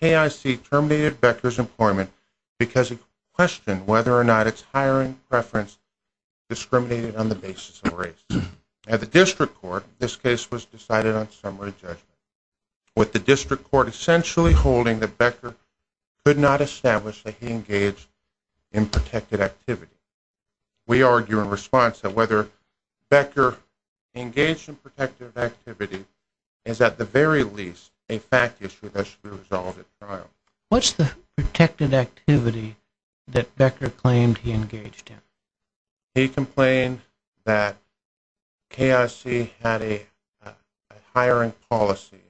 K.I.C. terminated Becker's employment because he questioned whether or not his hiring preference because he questioned whether or not his hiring preference because he questioned whether or not his hiring preference was discriminated on the basis of race at the district court this case was decided on summary judgment with the district court essentially holding that Becker could not establish that he engaged in protected activity we argue in response to whether Becker engaged in protected activity is at the very least a fact issue that should be resolved at trial. What's the protected activity that Becker claimed he engaged in? He complained that K.I.C. had a hiring policy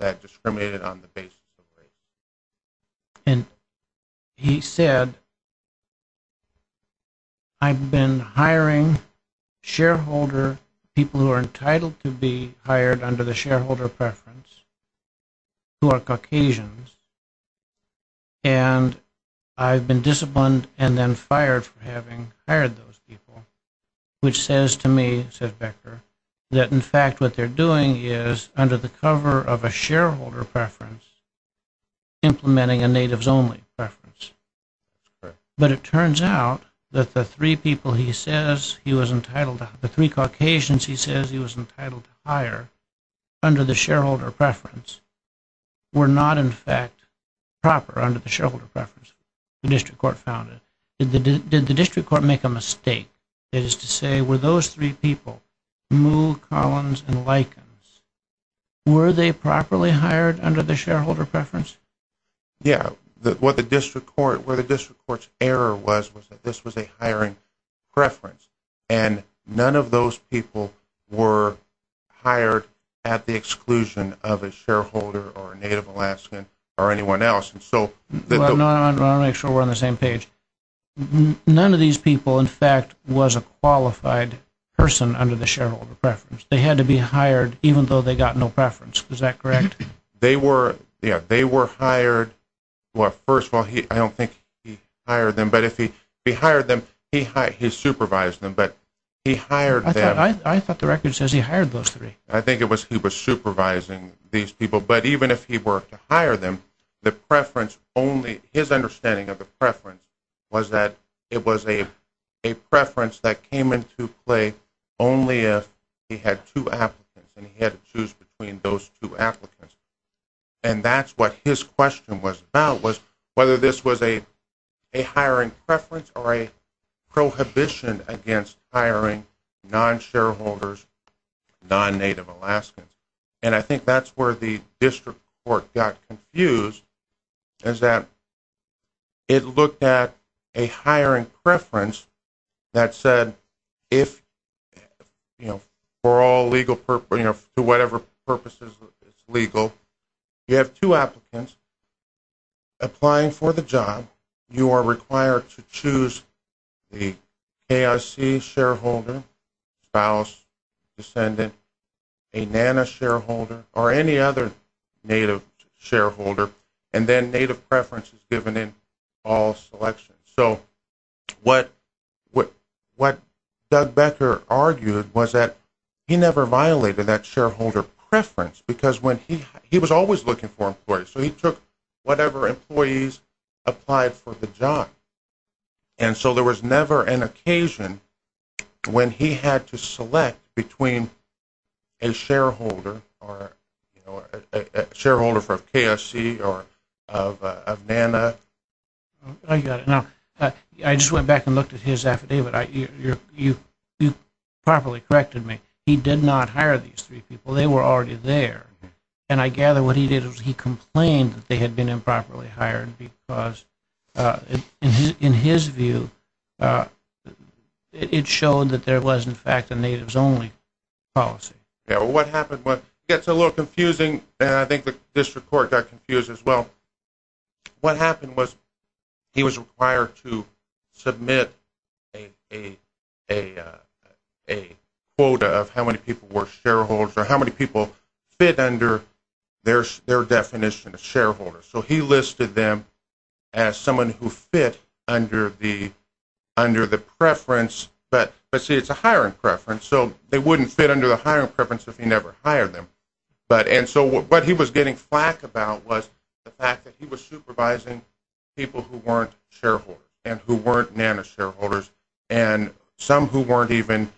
that discriminated on the basis of race. And he said, I've been hiring shareholder people who are entitled to be hired under the shareholder preference who are Caucasians and I've been disciplined and then fired for having hired those people which says to me, said Becker, that in fact what they're doing is under the cover of a shareholder preference, implementing a natives only preference. But it turns out that the three people he says he was entitled to, the three Caucasians he says he was entitled to hire under the shareholder preference were not in fact proper under the shareholder preference the district court found it. Did the district court make a mistake is to say were those three people, Moo, Collins and Likens, were they properly hired under the shareholder preference? Yeah, what the district court, where the district court's error was, was that this was a hiring preference and none of those people were hired at the exclusion of a shareholder or a native Alaskan or anyone else. I want to make sure we're on the same page. None of these people in fact was a qualified person under the shareholder preference. They had to be hired even though they got no preference, is that correct? They were, yeah, they were hired. Well, first of all, I don't think he hired them, but if he hired them, he supervised them, but he hired them. I thought the record says he hired those three. I think it was he was supervising these people, but even if he were to hire them, the preference only, his understanding of the preference was that it was a preference that came into play only if he had two applicants and he had to choose between those two applicants. And that's what his question was about, was whether this was a hiring preference or a prohibition against hiring non-shareholders, non-native Alaskans. And I think that's where the district court got confused, is that it looked at a hiring preference that said if, you know, for all legal purposes, you know, for whatever purposes it's legal, you have two applicants applying for the job. You are required to choose the KIC shareholder, spouse, descendant, a NANA shareholder, or any other native shareholder, and then native preference is given in all selections. So what Doug Becker argued was that he never violated that shareholder preference because he was always looking for employees, so he took whatever employees applied for the job. And so there was never an occasion when he had to select between a shareholder or, you know, a shareholder for KSC or of NANA. I got it. Now, I just went back and looked at his affidavit. You properly corrected me. He did not hire these three people. They were already there. And I gather what he did was he complained that they had been improperly hired because, in his view, it showed that there was, in fact, a natives-only policy. Now, what happened was it gets a little confusing, and I think the district court got confused as well. What happened was he was required to submit a quota of how many people were shareholders or how many people fit under their definition of shareholders. So he listed them as someone who fit under the preference, but, see, it's a hiring preference, so they wouldn't fit under the hiring preference if he never hired them. And so what he was getting flack about was the fact that he was supervising people who weren't shareholders and who weren't NANA shareholders and some who weren't even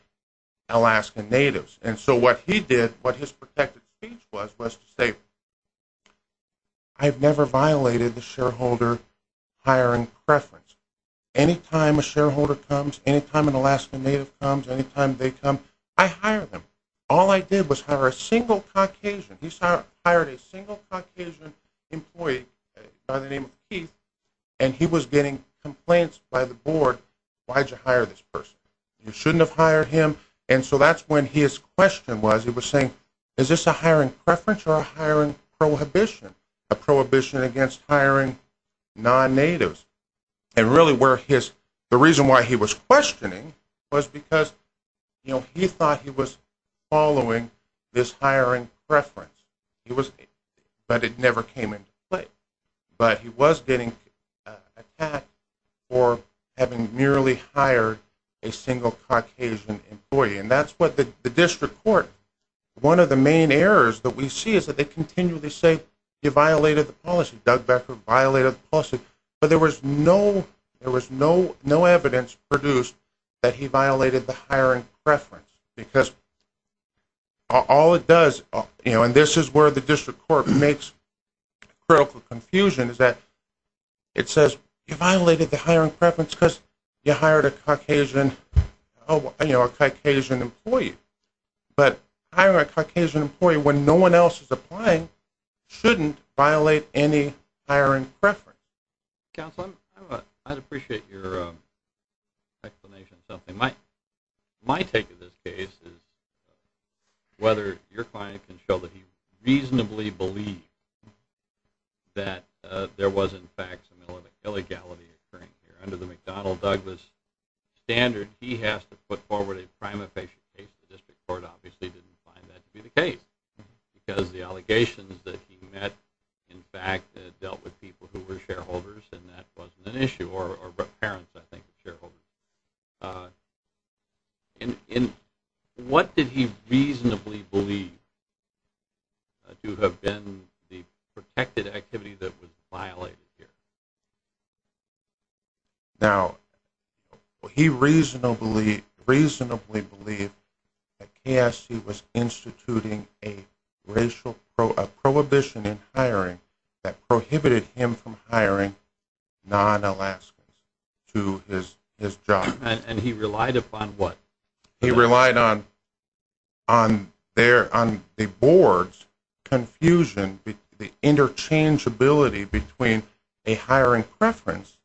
Alaskan natives. And so what he did, what his protected speech was, was to say, I've never violated the shareholder hiring preference. Anytime a shareholder comes, anytime an Alaskan native comes, anytime they come, I hire them. All I did was hire a single Caucasian. He hired a single Caucasian employee by the name of Keith, and he was getting complaints by the board, why did you hire this person? You shouldn't have hired him, and so that's when his question was, he was saying, is this a hiring preference or a hiring prohibition? A prohibition against hiring non-natives. And really where his, the reason why he was questioning was because, you know, he thought he was following this hiring preference. But it never came into play. But he was getting attacked for having merely hired a single Caucasian employee. And that's what the district court, one of the main errors that we see is that they continually say he violated the policy. Doug Becker violated the policy, but there was no evidence produced that he violated the hiring preference. Because all it does, you know, and this is where the district court makes critical confusion, is that it says you violated the hiring preference because you hired a Caucasian, you know, a Caucasian employee. But hiring a Caucasian employee when no one else is applying shouldn't violate any hiring preference. Counsel, I'd appreciate your explanation of something. My take of this case is whether your client can show that he reasonably believed that there was, in fact, some illegality occurring here. Under the McDonnell-Douglas standard, he has to put forward a prima facie case. The district court obviously didn't find that to be the case. Because the allegations that he met, in fact, dealt with people who were shareholders, and that wasn't an issue. Or parents, I think, of shareholders. And what did he reasonably believe to have been the protected activity that was violated here? Now, he reasonably believed that KSC was instituting a racial prohibition in hiring that prohibited him from hiring non-Alaskans to his job. And he relied upon what? He relied on the board's confusion, the interchangeability between a hiring preference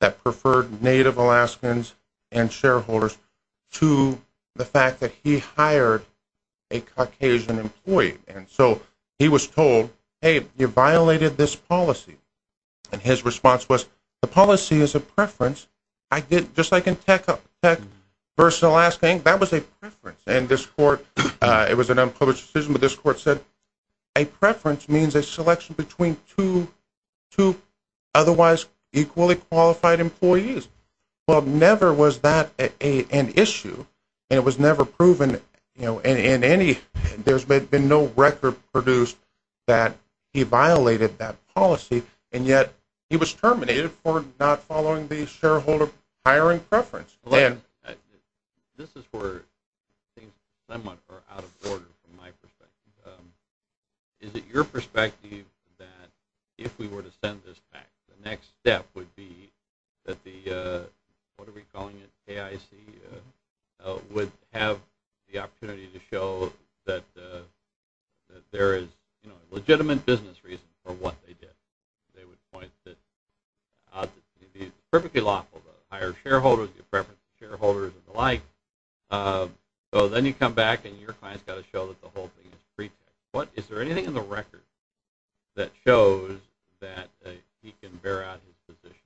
that preferred Native Alaskans and shareholders to the fact that he hired a Caucasian employee. And so he was told, hey, you violated this policy. And his response was, the policy is a preference. Just like in tech versus Alaskan, that was a preference. And this court, it was an unpublished decision, but this court said a preference means a selection between two otherwise equally qualified employees. Well, never was that an issue. And it was never proven in any, there's been no record produced that he violated that policy. And yet he was terminated for not following the shareholder hiring preference. This is where things somewhat are out of order from my perspective. Is it your perspective that if we were to send this back, the next step would be that the, what are we calling it, KIC, would have the opportunity to show that there is legitimate business reasons for what they did. They would point that, obviously, it would be perfectly lawful to hire shareholders, give preference to shareholders and the like. So then you come back and your client's got to show that the whole thing is pretext. What, is there anything in the record that shows that he can bear out his position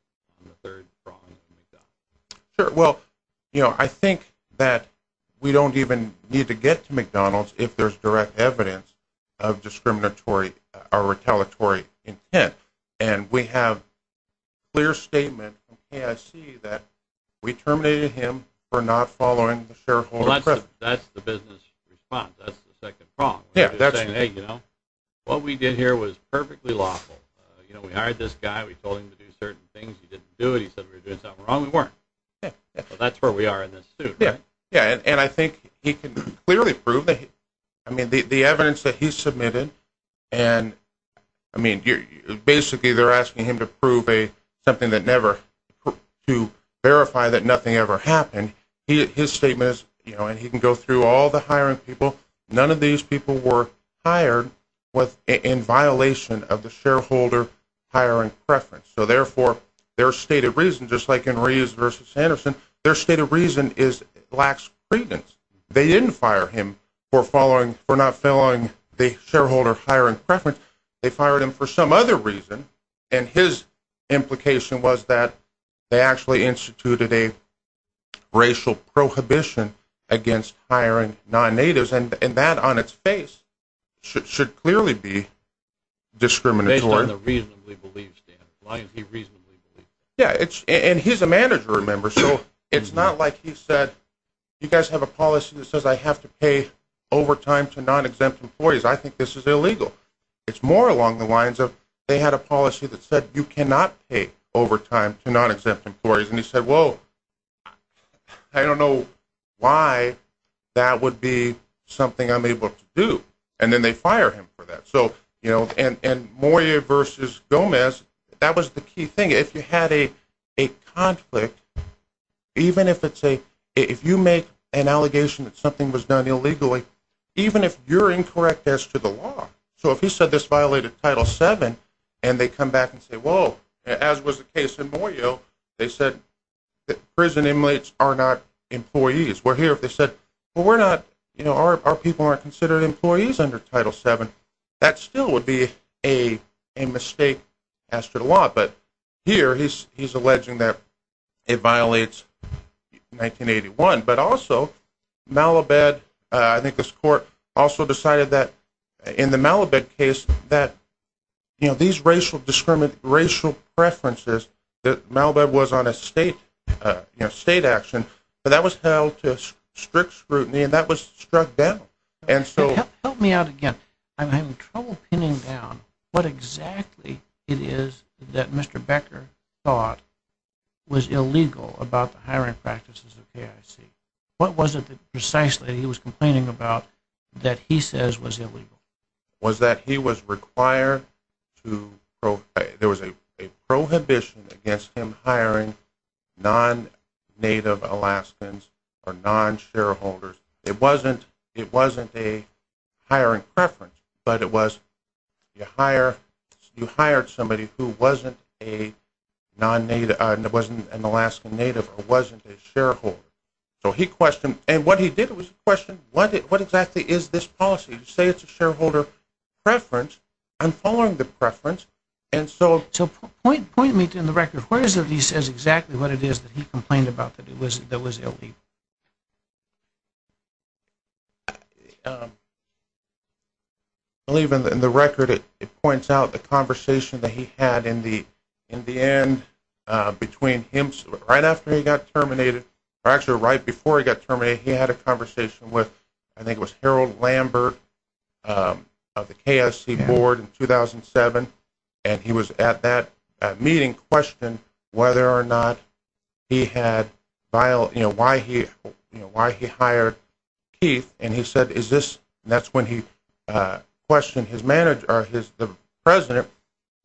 on the third strong example? Sure, well, you know, I think that we don't even need to get to McDonald's if there's direct evidence of discriminatory or retaliatory intent. And we have a clear statement from KIC that we terminated him for not following the shareholder preference. Well, that's the business response. That's the second problem. Yeah, that's right. We're just saying, hey, you know, what we did here was perfectly lawful. You know, we hired this guy, we told him to do certain things, he didn't do it. He said we were doing something wrong, we weren't. That's where we are in this suit, right? Yeah, and I think he can clearly prove that, I mean, the evidence that he submitted and, I mean, basically they're asking him to prove something that never, to verify that nothing ever happened. His statement is, you know, and he can go through all the hiring people. None of these people were hired in violation of the shareholder hiring preference. So, therefore, their state of reason, just like in Reeves v. Sanderson, their state of reason is lax credence. They didn't fire him for following, for not following the shareholder hiring preference. They fired him for some other reason, and his implication was that they actually instituted a racial prohibition against hiring non-natives, and that on its face should clearly be discriminatory. He's on the reasonably believed stand, why is he reasonably believed? Yeah, and he's a manager, remember, so it's not like he said, you guys have a policy that says I have to pay overtime to non-exempt employees, I think this is illegal. It's more along the lines of, they had a policy that said you cannot pay overtime to non-exempt employees, and he said, whoa, I don't know why that would be something I'm able to do, and then they fire him for that. And Moyo v. Gomez, that was the key thing. If you had a conflict, even if you make an allegation that something was done illegally, even if you're incorrect as to the law, so if he said this violated Title VII, and they come back and say, whoa, as was the case in Moyo, they said prison inmates are not employees. Where here if they said, well, our people aren't considered employees under Title VII, that still would be a mistake as to the law, but here he's alleging that it violates 1981. But also, Malibet, I think this court also decided that in the Malibet case, that these racial preferences, that Malibet was on a state action, but that was held to strict scrutiny, and that was struck down. Help me out again. I'm having trouble pinning down what exactly it is that Mr. Becker thought was illegal about the hiring practices of KIC. What was it that precisely he was complaining about that he says was illegal? Was that he was required to, there was a prohibition against him hiring non-Native Alaskans or non-shareholders. It wasn't a hiring preference, but it was you hired somebody who wasn't an Alaskan Native or wasn't a shareholder. So he questioned, and what he did was question, what exactly is this policy? You say it's a shareholder preference. I'm following the preference. So point me to the record. Where is it that he says exactly what it is that he complained about that was illegal? I believe in the record it points out the conversation that he had in the end between him, right after he got terminated, or actually right before he got terminated, he had a conversation with, I think it was Harold Lambert of the KSC board in 2007, and he was at that meeting questioning whether or not he had, you know, why he hired Keith, and he said is this, and that's when he questioned the president,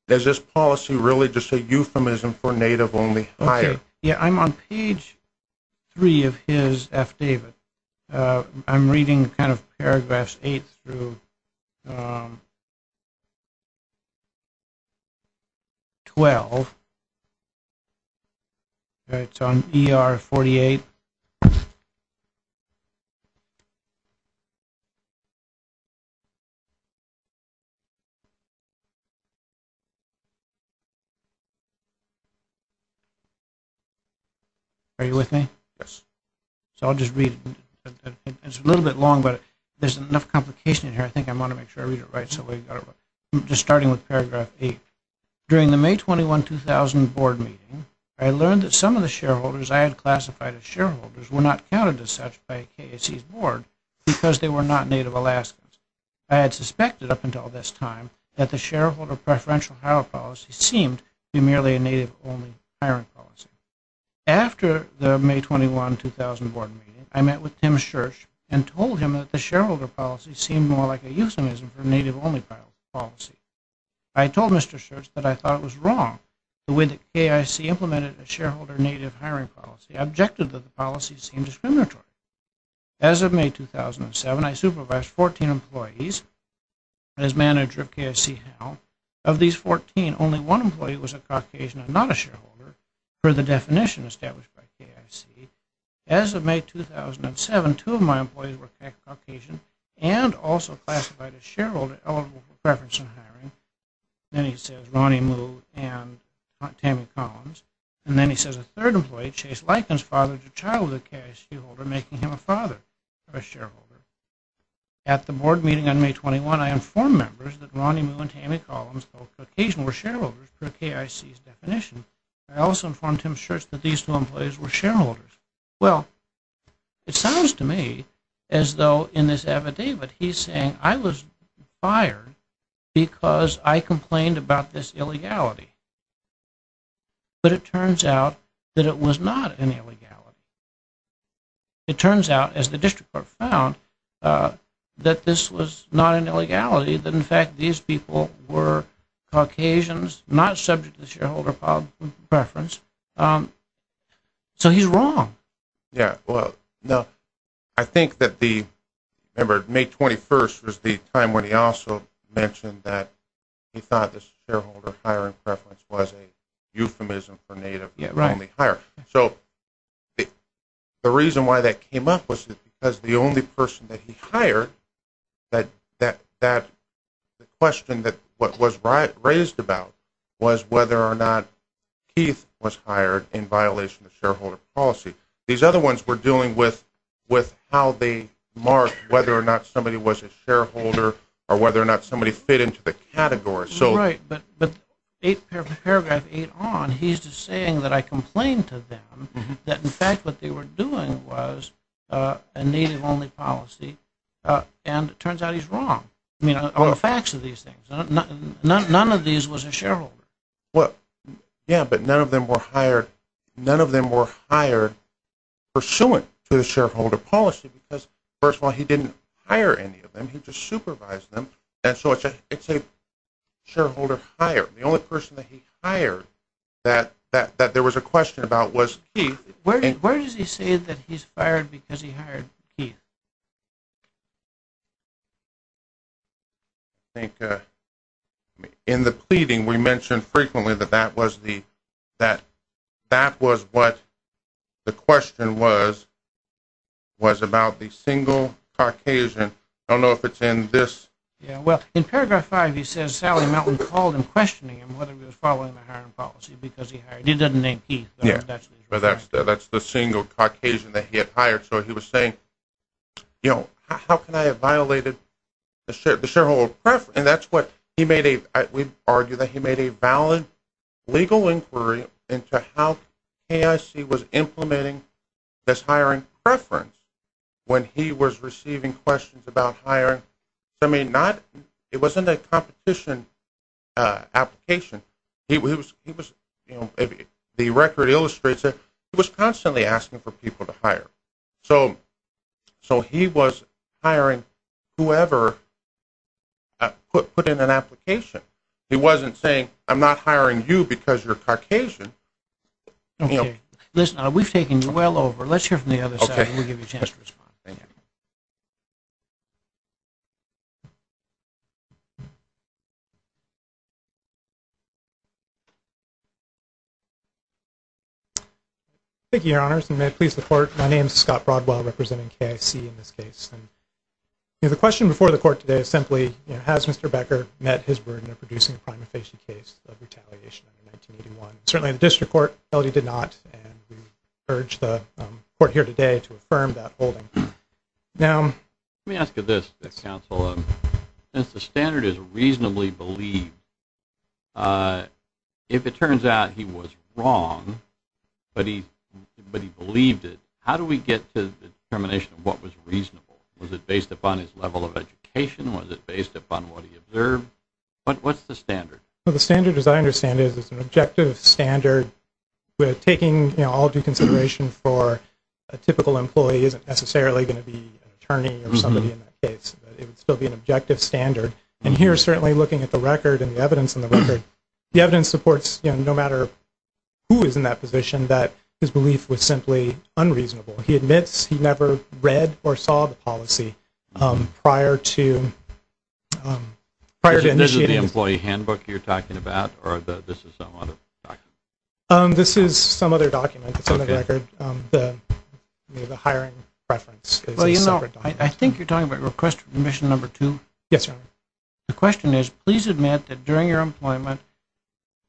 is this policy really just a euphemism for Native-only hiring? I'm on page 3 of his affidavit. I'm reading kind of paragraphs 8 through 12. It's on ER 48. Are you with me? Yes. So I'll just read it. It's a little bit long, but there's enough complication in here. I think I want to make sure I read it right. Just starting with paragraph 8. During the May 21, 2000 board meeting, I learned that some of the shareholders I had classified as shareholders were not counted as such by KSC's board because they were not Native Alaskans. I had suspected up until this time that the shareholder preferential hire policy seemed to be merely a Native-only hiring policy. After the May 21, 2000 board meeting, I met with Tim Schirch and told him that the shareholder policy seemed more like a euphemism for Native-only policy. I told Mr. Schirch that I thought it was wrong. The way that KSC implemented a shareholder Native hiring policy objected that the policy seemed discriminatory. As of May 2007, I supervised 14 employees as manager of KSC HAL. Of these 14, only one employee was a Caucasian and not a shareholder per the definition established by KSC. As of May 2007, two of my employees were Caucasian and also classified as shareholder eligible for preferential hiring. Then he says Ronnie Moo and Tammy Collins. And then he says a third employee, Chase Lykins, fathered a child with a KSC holder, making him a father of a shareholder. At the board meeting on May 21, I informed members that Ronnie Moo and Tammy Collins, both Caucasian, were shareholders per KSC's definition. I also informed Tim Schirch that these two employees were shareholders. Well, it sounds to me as though in this affidavit he's saying I was fired because I complained about this illegality. But it turns out that it was not an illegality. It turns out, as the district court found, that this was not an illegality, that in fact these people were Caucasians, not subject to shareholder preference. So he's wrong. Yeah, well, no. I think that the, remember, May 21 was the time when he also mentioned that he thought this shareholder hiring preference was a euphemism for native only hire. So the reason why that came up was because the only person that he hired, the question that was raised about was whether or not Keith was hired in violation of shareholder policy. These other ones were dealing with how they marked whether or not somebody was a shareholder or whether or not somebody fit into the category. Right, but paragraph eight on, he's just saying that I complained to them that in fact what they were doing was a native only policy, and it turns out he's wrong. I mean, all the facts of these things. None of these was a shareholder. Yeah, but none of them were hired pursuant to the shareholder policy because, first of all, he didn't hire any of them. He just supervised them, and so it's a shareholder hire. The only person that he hired that there was a question about was Keith. Where does he say that he's fired because he hired Keith? I think in the pleading we mentioned frequently that that was what the question was, was about the single Caucasian. I don't know if it's in this. Yeah, well, in paragraph five he says Sally Mountain called him, questioning him whether he was following the hiring policy because he hired him. He doesn't name Keith. Yeah, but that's the single Caucasian that he had hired. So he was saying, you know, how can I have violated the shareholder preference? And that's what he made a, we argue that he made a valid legal inquiry into how KIC was implementing this hiring preference when he was receiving questions about hiring. I mean, it wasn't a competition application. The record illustrates it. He was constantly asking for people to hire. So he was hiring whoever put in an application. He wasn't saying, I'm not hiring you because you're Caucasian. Okay, listen, we've taken you well over. Let's hear from the other side and we'll give you a chance to respond. Thank you, Your Honors, and may it please the Court, my name is Scott Broadwell representing KIC in this case. The question before the Court today is simply, has Mr. Becker met his burden of producing a prima facie case of retaliation in 1981? Certainly the District Court held he did not, and we urge the Court here today to affirm that holding. Let me ask you this, Counsel, since the standard is reasonably believed, if it turns out he was wrong but he believed it, how do we get to the determination of what was reasonable? Was it based upon his level of education? Was it based upon what he observed? What's the standard? The standard, as I understand it, is an objective standard. Taking all due consideration for a typical employee isn't necessarily going to be an attorney or somebody in that case. It would still be an objective standard. And here, certainly looking at the record and the evidence in the record, the evidence supports, no matter who is in that position, that his belief was simply unreasonable. He admits he never read or saw the policy prior to initiating it. Is this the employee handbook you're talking about, or this is some other document? This is some other document. It's on the record, the hiring preference. Well, you know, I think you're talking about mission number two? Yes, Your Honor. The question is, please admit that during your employment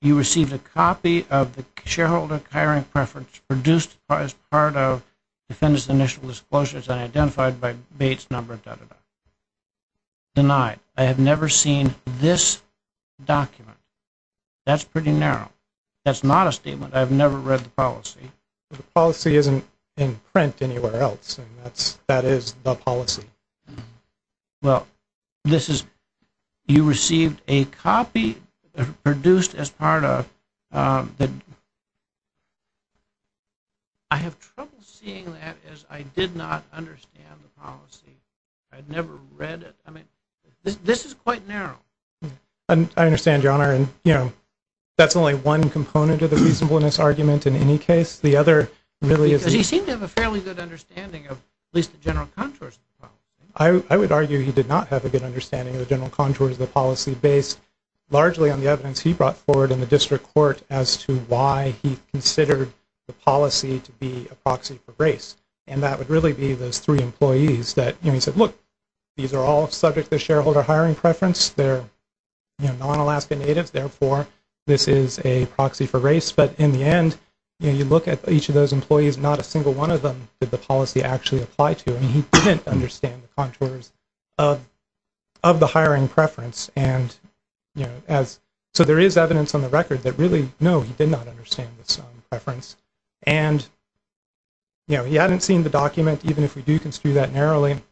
you received a copy of the shareholder hiring preference produced as part of the defendant's initial disclosures and identified by Bates number, da, da, da. Denied. I have never seen this document. That's pretty narrow. That's not a statement. I've never read the policy. The policy isn't in print anywhere else, and that is the policy. Well, this is, you received a copy produced as part of the, I have trouble seeing that as I did not understand the policy. I'd never read it. I mean, this is quite narrow. I understand, Your Honor, and, you know, that's only one component of the reasonableness argument in any case. The other really is. Because he seemed to have a fairly good understanding of at least the general contours of the policy. I would argue he did not have a good understanding of the general contours of the policy based largely on the evidence he brought forward in the district court as to why he considered the policy to be a proxy for race, and that would really be those three employees that, you know, he said, look, these are all subject to shareholder hiring preference. They're, you know, non-Alaska natives. Therefore, this is a proxy for race. But in the end, you know, you look at each of those employees, not a single one of them did the policy actually apply to, and he didn't understand the contours of the hiring preference. And, you know, so there is evidence on the record that really, no, he did not understand this preference. And, you know, he hadn't seen the document, even if we do construe that narrowly.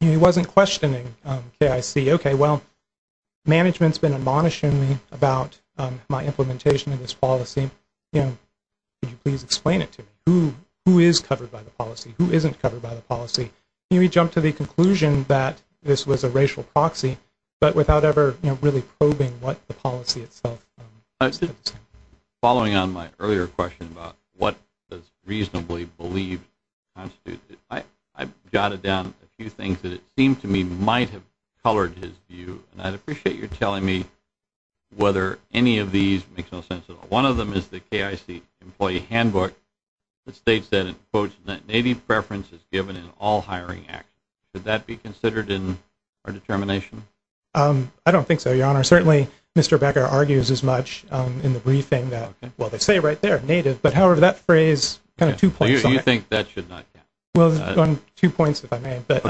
He wasn't questioning KIC. Okay, well, management's been admonishing me about my implementation of this policy. You know, could you please explain it to me? Who is covered by the policy? Who isn't covered by the policy? And he jumped to the conclusion that this was a racial proxy, but without ever, you know, really probing what the policy itself is. Following on my earlier question about what does reasonably believe constitute, I jotted down a few things that it seemed to me might have colored his view, and I'd appreciate your telling me whether any of these makes no sense at all. One of them is the KIC employee handbook that states that, in quotes, that native preference is given in all hiring acts. Could that be considered in our determination? I don't think so, Your Honor. Certainly Mr. Becker argues as much in the briefing that, well, they say right there, native, but, however, that phrase kind of two points. You think that should not count? Well, two points, if I may. But,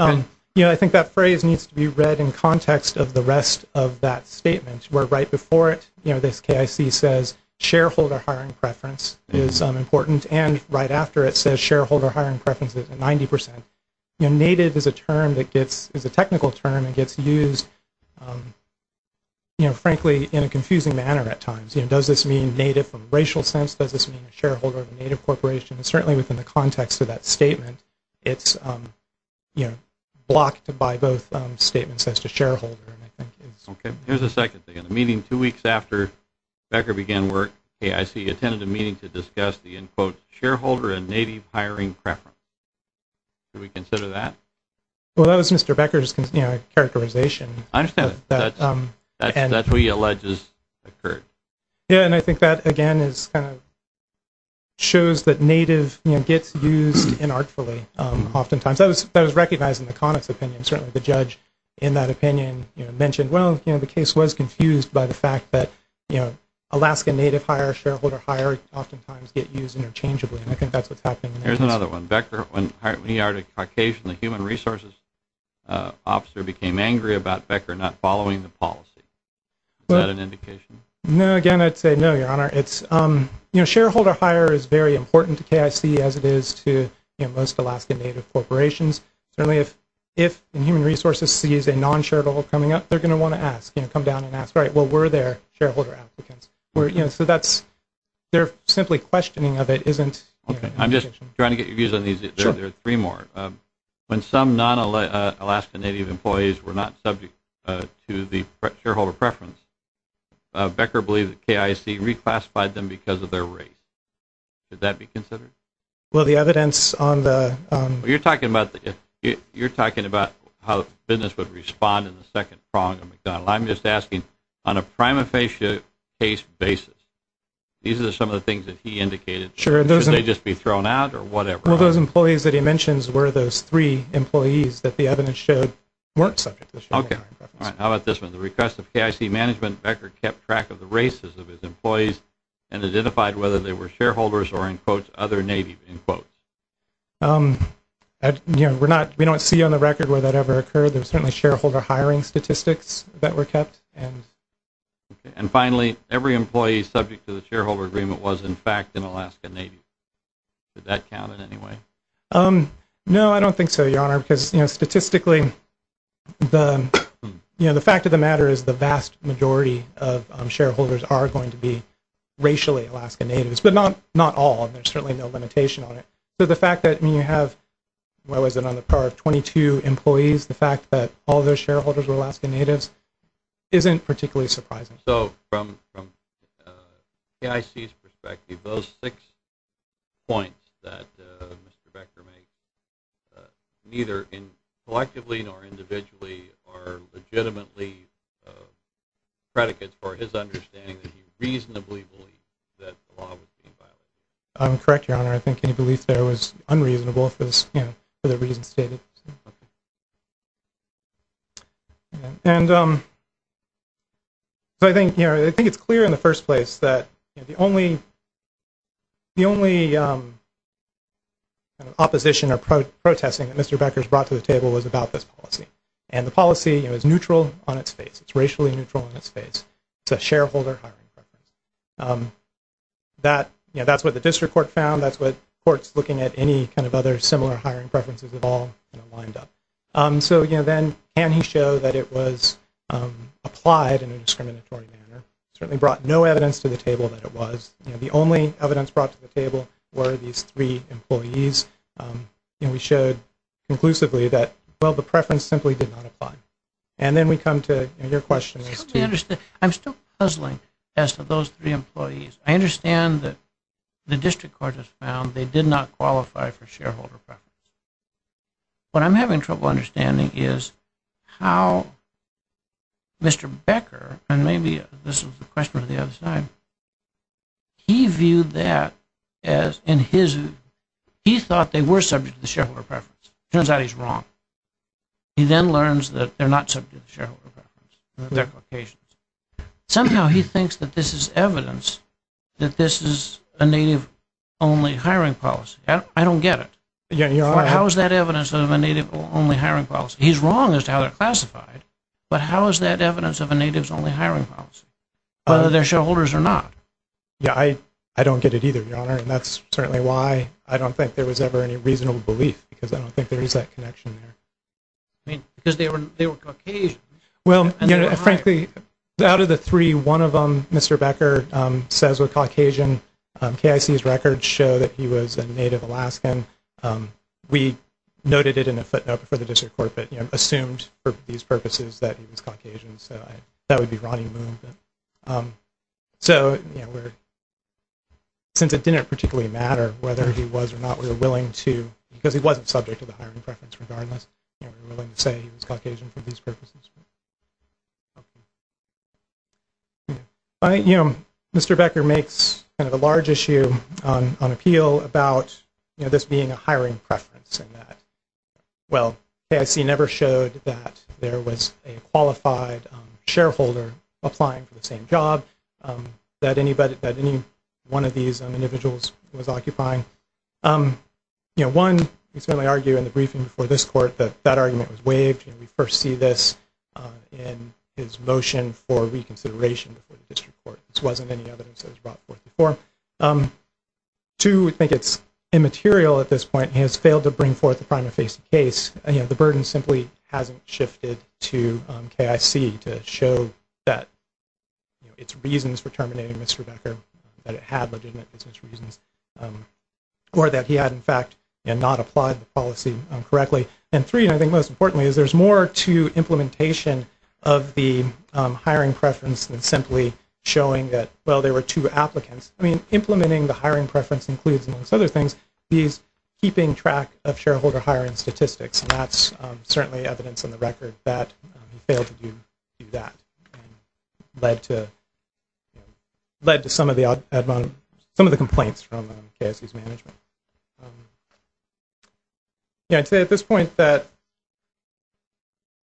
you know, I think that phrase needs to be read in context of the rest of that statement. Where right before it, you know, this KIC says, shareholder hiring preference is important, and right after it says shareholder hiring preference is 90%. You know, native is a technical term that gets used, you know, frankly in a confusing manner at times. You know, does this mean native from a racial sense? Does this mean a shareholder of a native corporation? And certainly within the context of that statement, it's, you know, blocked by both statements as to shareholder. Okay. Here's a second thing. In a meeting two weeks after Becker began work, KIC attended a meeting to discuss the, end quote, shareholder and native hiring preference. Do we consider that? Well, that was Mr. Becker's, you know, characterization. I understand that. That's what he alleges occurred. Yeah, and I think that, again, is kind of shows that native, you know, gets used inartfully oftentimes. That was recognized in the Connick's opinion. Certainly the judge in that opinion, you know, mentioned, well, you know, the case was confused by the fact that, you know, Alaska native hire, shareholder hire oftentimes get used interchangeably. And I think that's what's happening. Here's another one. Becker, when he hired a Caucasian human resources officer, became angry about Becker not following the policy. Is that an indication? No, again, I'd say no, Your Honor. It's, you know, shareholder hire is very important to KIC as it is to, you know, most Alaska native corporations. Certainly if human resources sees a non-shareholder coming up, they're going to want to ask, you know, come down and ask, right, well, were there shareholder applicants? You know, so that's their simply questioning of it isn't. Okay. I'm just trying to get your views on these. Sure. There are three more. When some non-Alaska native employees were not subject to the shareholder preference, Becker believed that KIC reclassified them because of their race. Could that be considered? Well, the evidence on the. You're talking about how the business would respond in the second prong of McDonald. I'm just asking, on a prima facie case basis, these are some of the things that he indicated. Sure. Should they just be thrown out or whatever? Well, those employees that he mentions were those three employees that the evidence showed weren't subject to shareholder preference. Okay. All right. How about this one? The request of KIC management, Becker kept track of the races of his employees and identified whether they were shareholders or, in quotes, We don't see on the record where that ever occurred. There were certainly shareholder hiring statistics that were kept. And finally, every employee subject to the shareholder agreement was, in fact, an Alaska native. Did that count in any way? No, I don't think so, Your Honor, because statistically, the fact of the matter is the vast majority of shareholders are going to be racially Alaska natives, but not all. There's certainly no limitation on it. So the fact that you have, what was it, on the part of 22 employees, the fact that all those shareholders were Alaska natives isn't particularly surprising. So from KIC's perspective, those six points that Mr. Becker made neither collectively nor individually are legitimately predicates for his understanding that he reasonably believes that the law was being violated. Correct, Your Honor. I think any belief there was unreasonable for the reasons stated. And so I think it's clear in the first place that the only opposition or protesting that Mr. Becker's brought to the table was about this policy. And the policy is neutral on its face. It's racially neutral on its face. It's a shareholder hiring preference. That's what the district court found. That's what courts looking at any kind of other similar hiring preferences have all lined up. So, again, then can he show that it was applied in a discriminatory manner? It certainly brought no evidence to the table that it was. The only evidence brought to the table were these three employees. We showed conclusively that, well, the preference simply did not apply. And then we come to your question. I'm still puzzling as to those three employees. I understand that the district court has found they did not qualify for shareholder preference. What I'm having trouble understanding is how Mr. Becker, and maybe this was the question on the other side, he viewed that as in his view. He thought they were subject to the shareholder preference. It turns out he's wrong. He then learns that they're not subject to the shareholder preference. Somehow he thinks that this is evidence that this is a native-only hiring policy. I don't get it. How is that evidence of a native-only hiring policy? He's wrong as to how they're classified, but how is that evidence of a native-only hiring policy, whether they're shareholders or not? Yeah, I don't get it either, Your Honor. And that's certainly why I don't think there was ever any reasonable belief because I don't think there is that connection there. Because they were Caucasians. Well, frankly, out of the three, one of them, Mr. Becker, says we're Caucasian. KIC's records show that he was a native Alaskan. We noted it in a footnote for the district court, but assumed for these purposes that he was Caucasian. So that would be Ronnie Moon. So since it didn't particularly matter whether he was or not, we were willing to, because he wasn't subject to the hiring preference, regardless, we were willing to say he was Caucasian for these purposes. Mr. Becker makes kind of a large issue on appeal about this being a hiring preference. Well, KIC never showed that there was a qualified shareholder applying for the same job that any one of these individuals was occupying. One, we certainly argue in the briefing before this court that that argument was waived. We first see this in his motion for reconsideration before the district court. This wasn't any evidence that was brought forth before. Two, we think it's immaterial at this point. He has failed to bring forth a prima facie case. The burden simply hasn't shifted to KIC to show that its reasons for terminating Mr. Becker, that it had legitimate business reasons, or that he had, in fact, not applied the policy correctly. And three, and I think most importantly, is there's more to implementation of the hiring preference than simply showing that, well, there were two applicants. I mean, implementing the hiring preference includes, amongst other things, keeping track of shareholder hiring statistics, and that's certainly evidence on the record that he failed to do that and led to some of the complaints from KIC's management. I'd say at this point that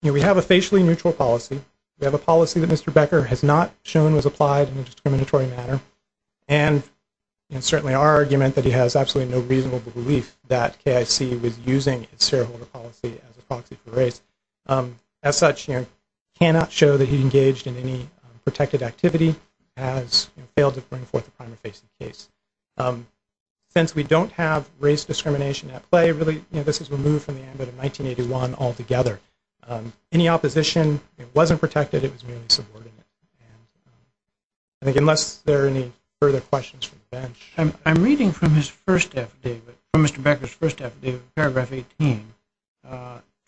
we have a facially neutral policy. We have a policy that Mr. Becker has not shown was applied in a discriminatory manner, and certainly our argument that he has absolutely no reasonable belief that KIC was using its shareholder policy as a proxy for race. As such, cannot show that he engaged in any protected activity, has failed to bring forth a prima facie case. Since we don't have race discrimination at play, really, this is removed from the amendment of 1981 altogether. Any opposition, it wasn't protected, it was merely subordinate. I think unless there are any further questions from the bench. I'm reading from Mr. Becker's first affidavit, paragraph 18.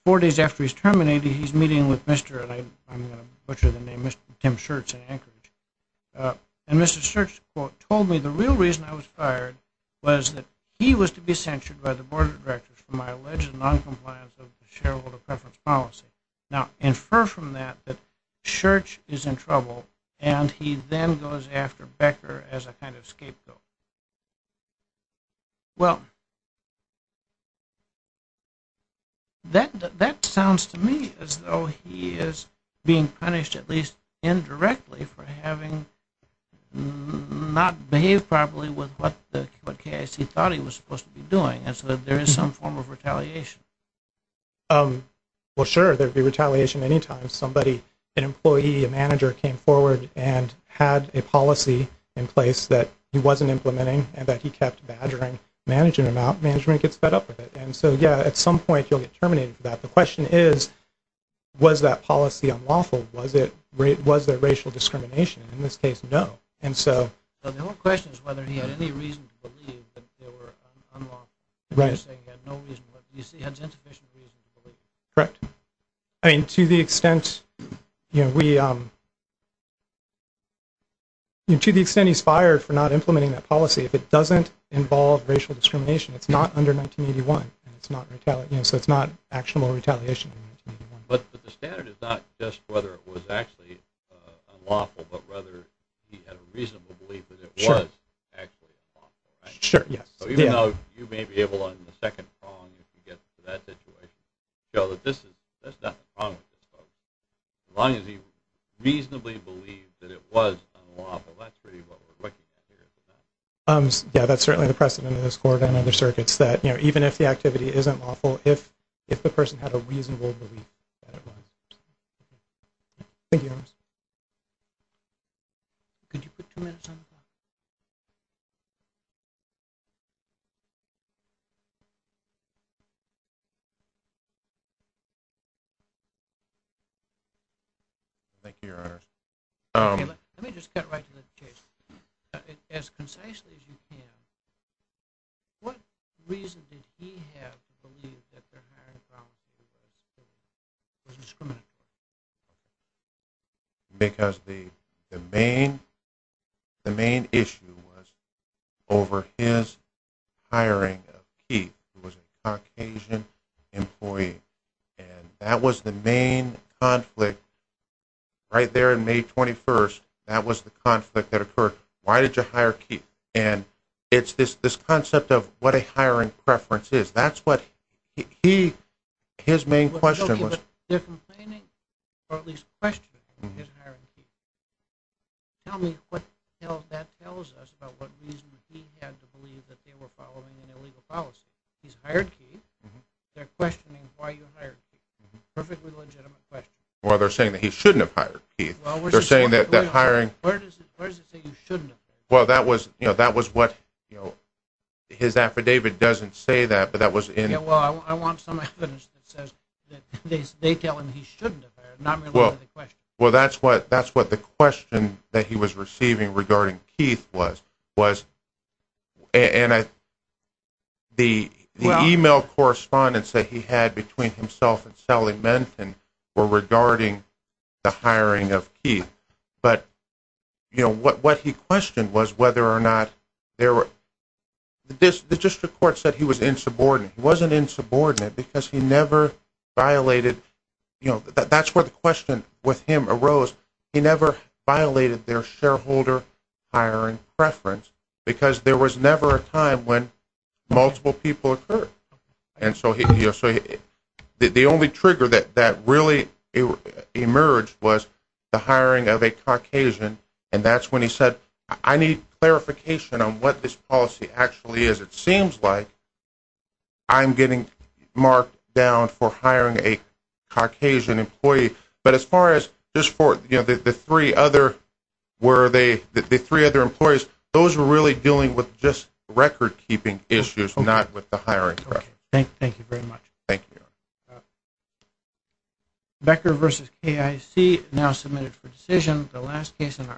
Four days after he's terminated, he's meeting with Mr., and I'm going to butcher the name, Mr. Tim Schertz in Anchorage. And Mr. Schertz, quote, told me, the real reason I was fired was that he was to be censured by the board of directors for my alleged noncompliance of the shareholder preference policy. Now, infer from that that Schertz is in trouble, and he then goes after Becker as a kind of scapegoat. Well, that sounds to me as though he is being punished, at least indirectly, for having not behaved properly with what KIC thought he was supposed to be doing, as though there is some form of retaliation. Well, sure, there would be retaliation any time somebody, an employee, a manager, came forward and had a policy in place that he wasn't implementing and that he kept badgering management about. Management gets fed up with it. And so, yeah, at some point you'll get terminated for that. The question is, was that policy unlawful? Was there racial discrimination? In this case, no. The whole question is whether he had any reason to believe that they were unlawful. You're saying he had no reason, but you say he has insufficient reason to believe. Correct. To the extent he's fired for not implementing that policy, if it doesn't involve racial discrimination, it's not under 1981, so it's not actionable retaliation. But the standard is not just whether it was actually unlawful, but whether he had a reasonable belief that it was actually unlawful. Sure, yes. So even though you may be able, on the second prong, if you get to that situation, show that that's not the problem with this policy. As long as he reasonably believed that it was unlawful, that's pretty what we're looking at here. Yeah, that's certainly the precedent in this court and other circuits, that even if the activity isn't lawful, if the person had a reasonable belief that it was. Thank you. Mr. Williams, could you put two minutes on the clock? Thank you, Your Honor. Let me just cut right to the chase. As concisely as you can, what reason did he have to believe that their hiring policy was discriminatory? Because the main issue was over his hiring of Keith, who was a Caucasian employee, and that was the main conflict. Right there in May 21st, that was the conflict that occurred. Why did you hire Keith? And it's this concept of what a hiring preference is. That's what his main question was. They're complaining or at least questioning his hiring of Keith. Tell me what that tells us about what reason he had to believe that they were following an illegal policy. He's hired Keith. They're questioning why you hired Keith. Perfectly legitimate question. Well, they're saying that he shouldn't have hired Keith. Well, where does it say you shouldn't have hired him? Well, that was what his affidavit doesn't say that, but that was in— Yeah, well, I want some evidence that says that they tell him he shouldn't have hired him, not related to the question. Well, that's what the question that he was receiving regarding Keith was. And the email correspondence that he had between himself and Sally Menton were regarding the hiring of Keith. But what he questioned was whether or not there were—the district court said he was insubordinate. He wasn't insubordinate because he never violated—that's where the question with him arose. He never violated their shareholder hiring preference because there was never a time when multiple people occurred. And so the only trigger that really emerged was the hiring of a Caucasian. And that's when he said, I need clarification on what this policy actually is. It seems like I'm getting marked down for hiring a Caucasian employee. But as far as the three other—where are they? The three other employees, those were really dealing with just record-keeping issues, not with the hiring preference. Okay, thank you very much. Thank you.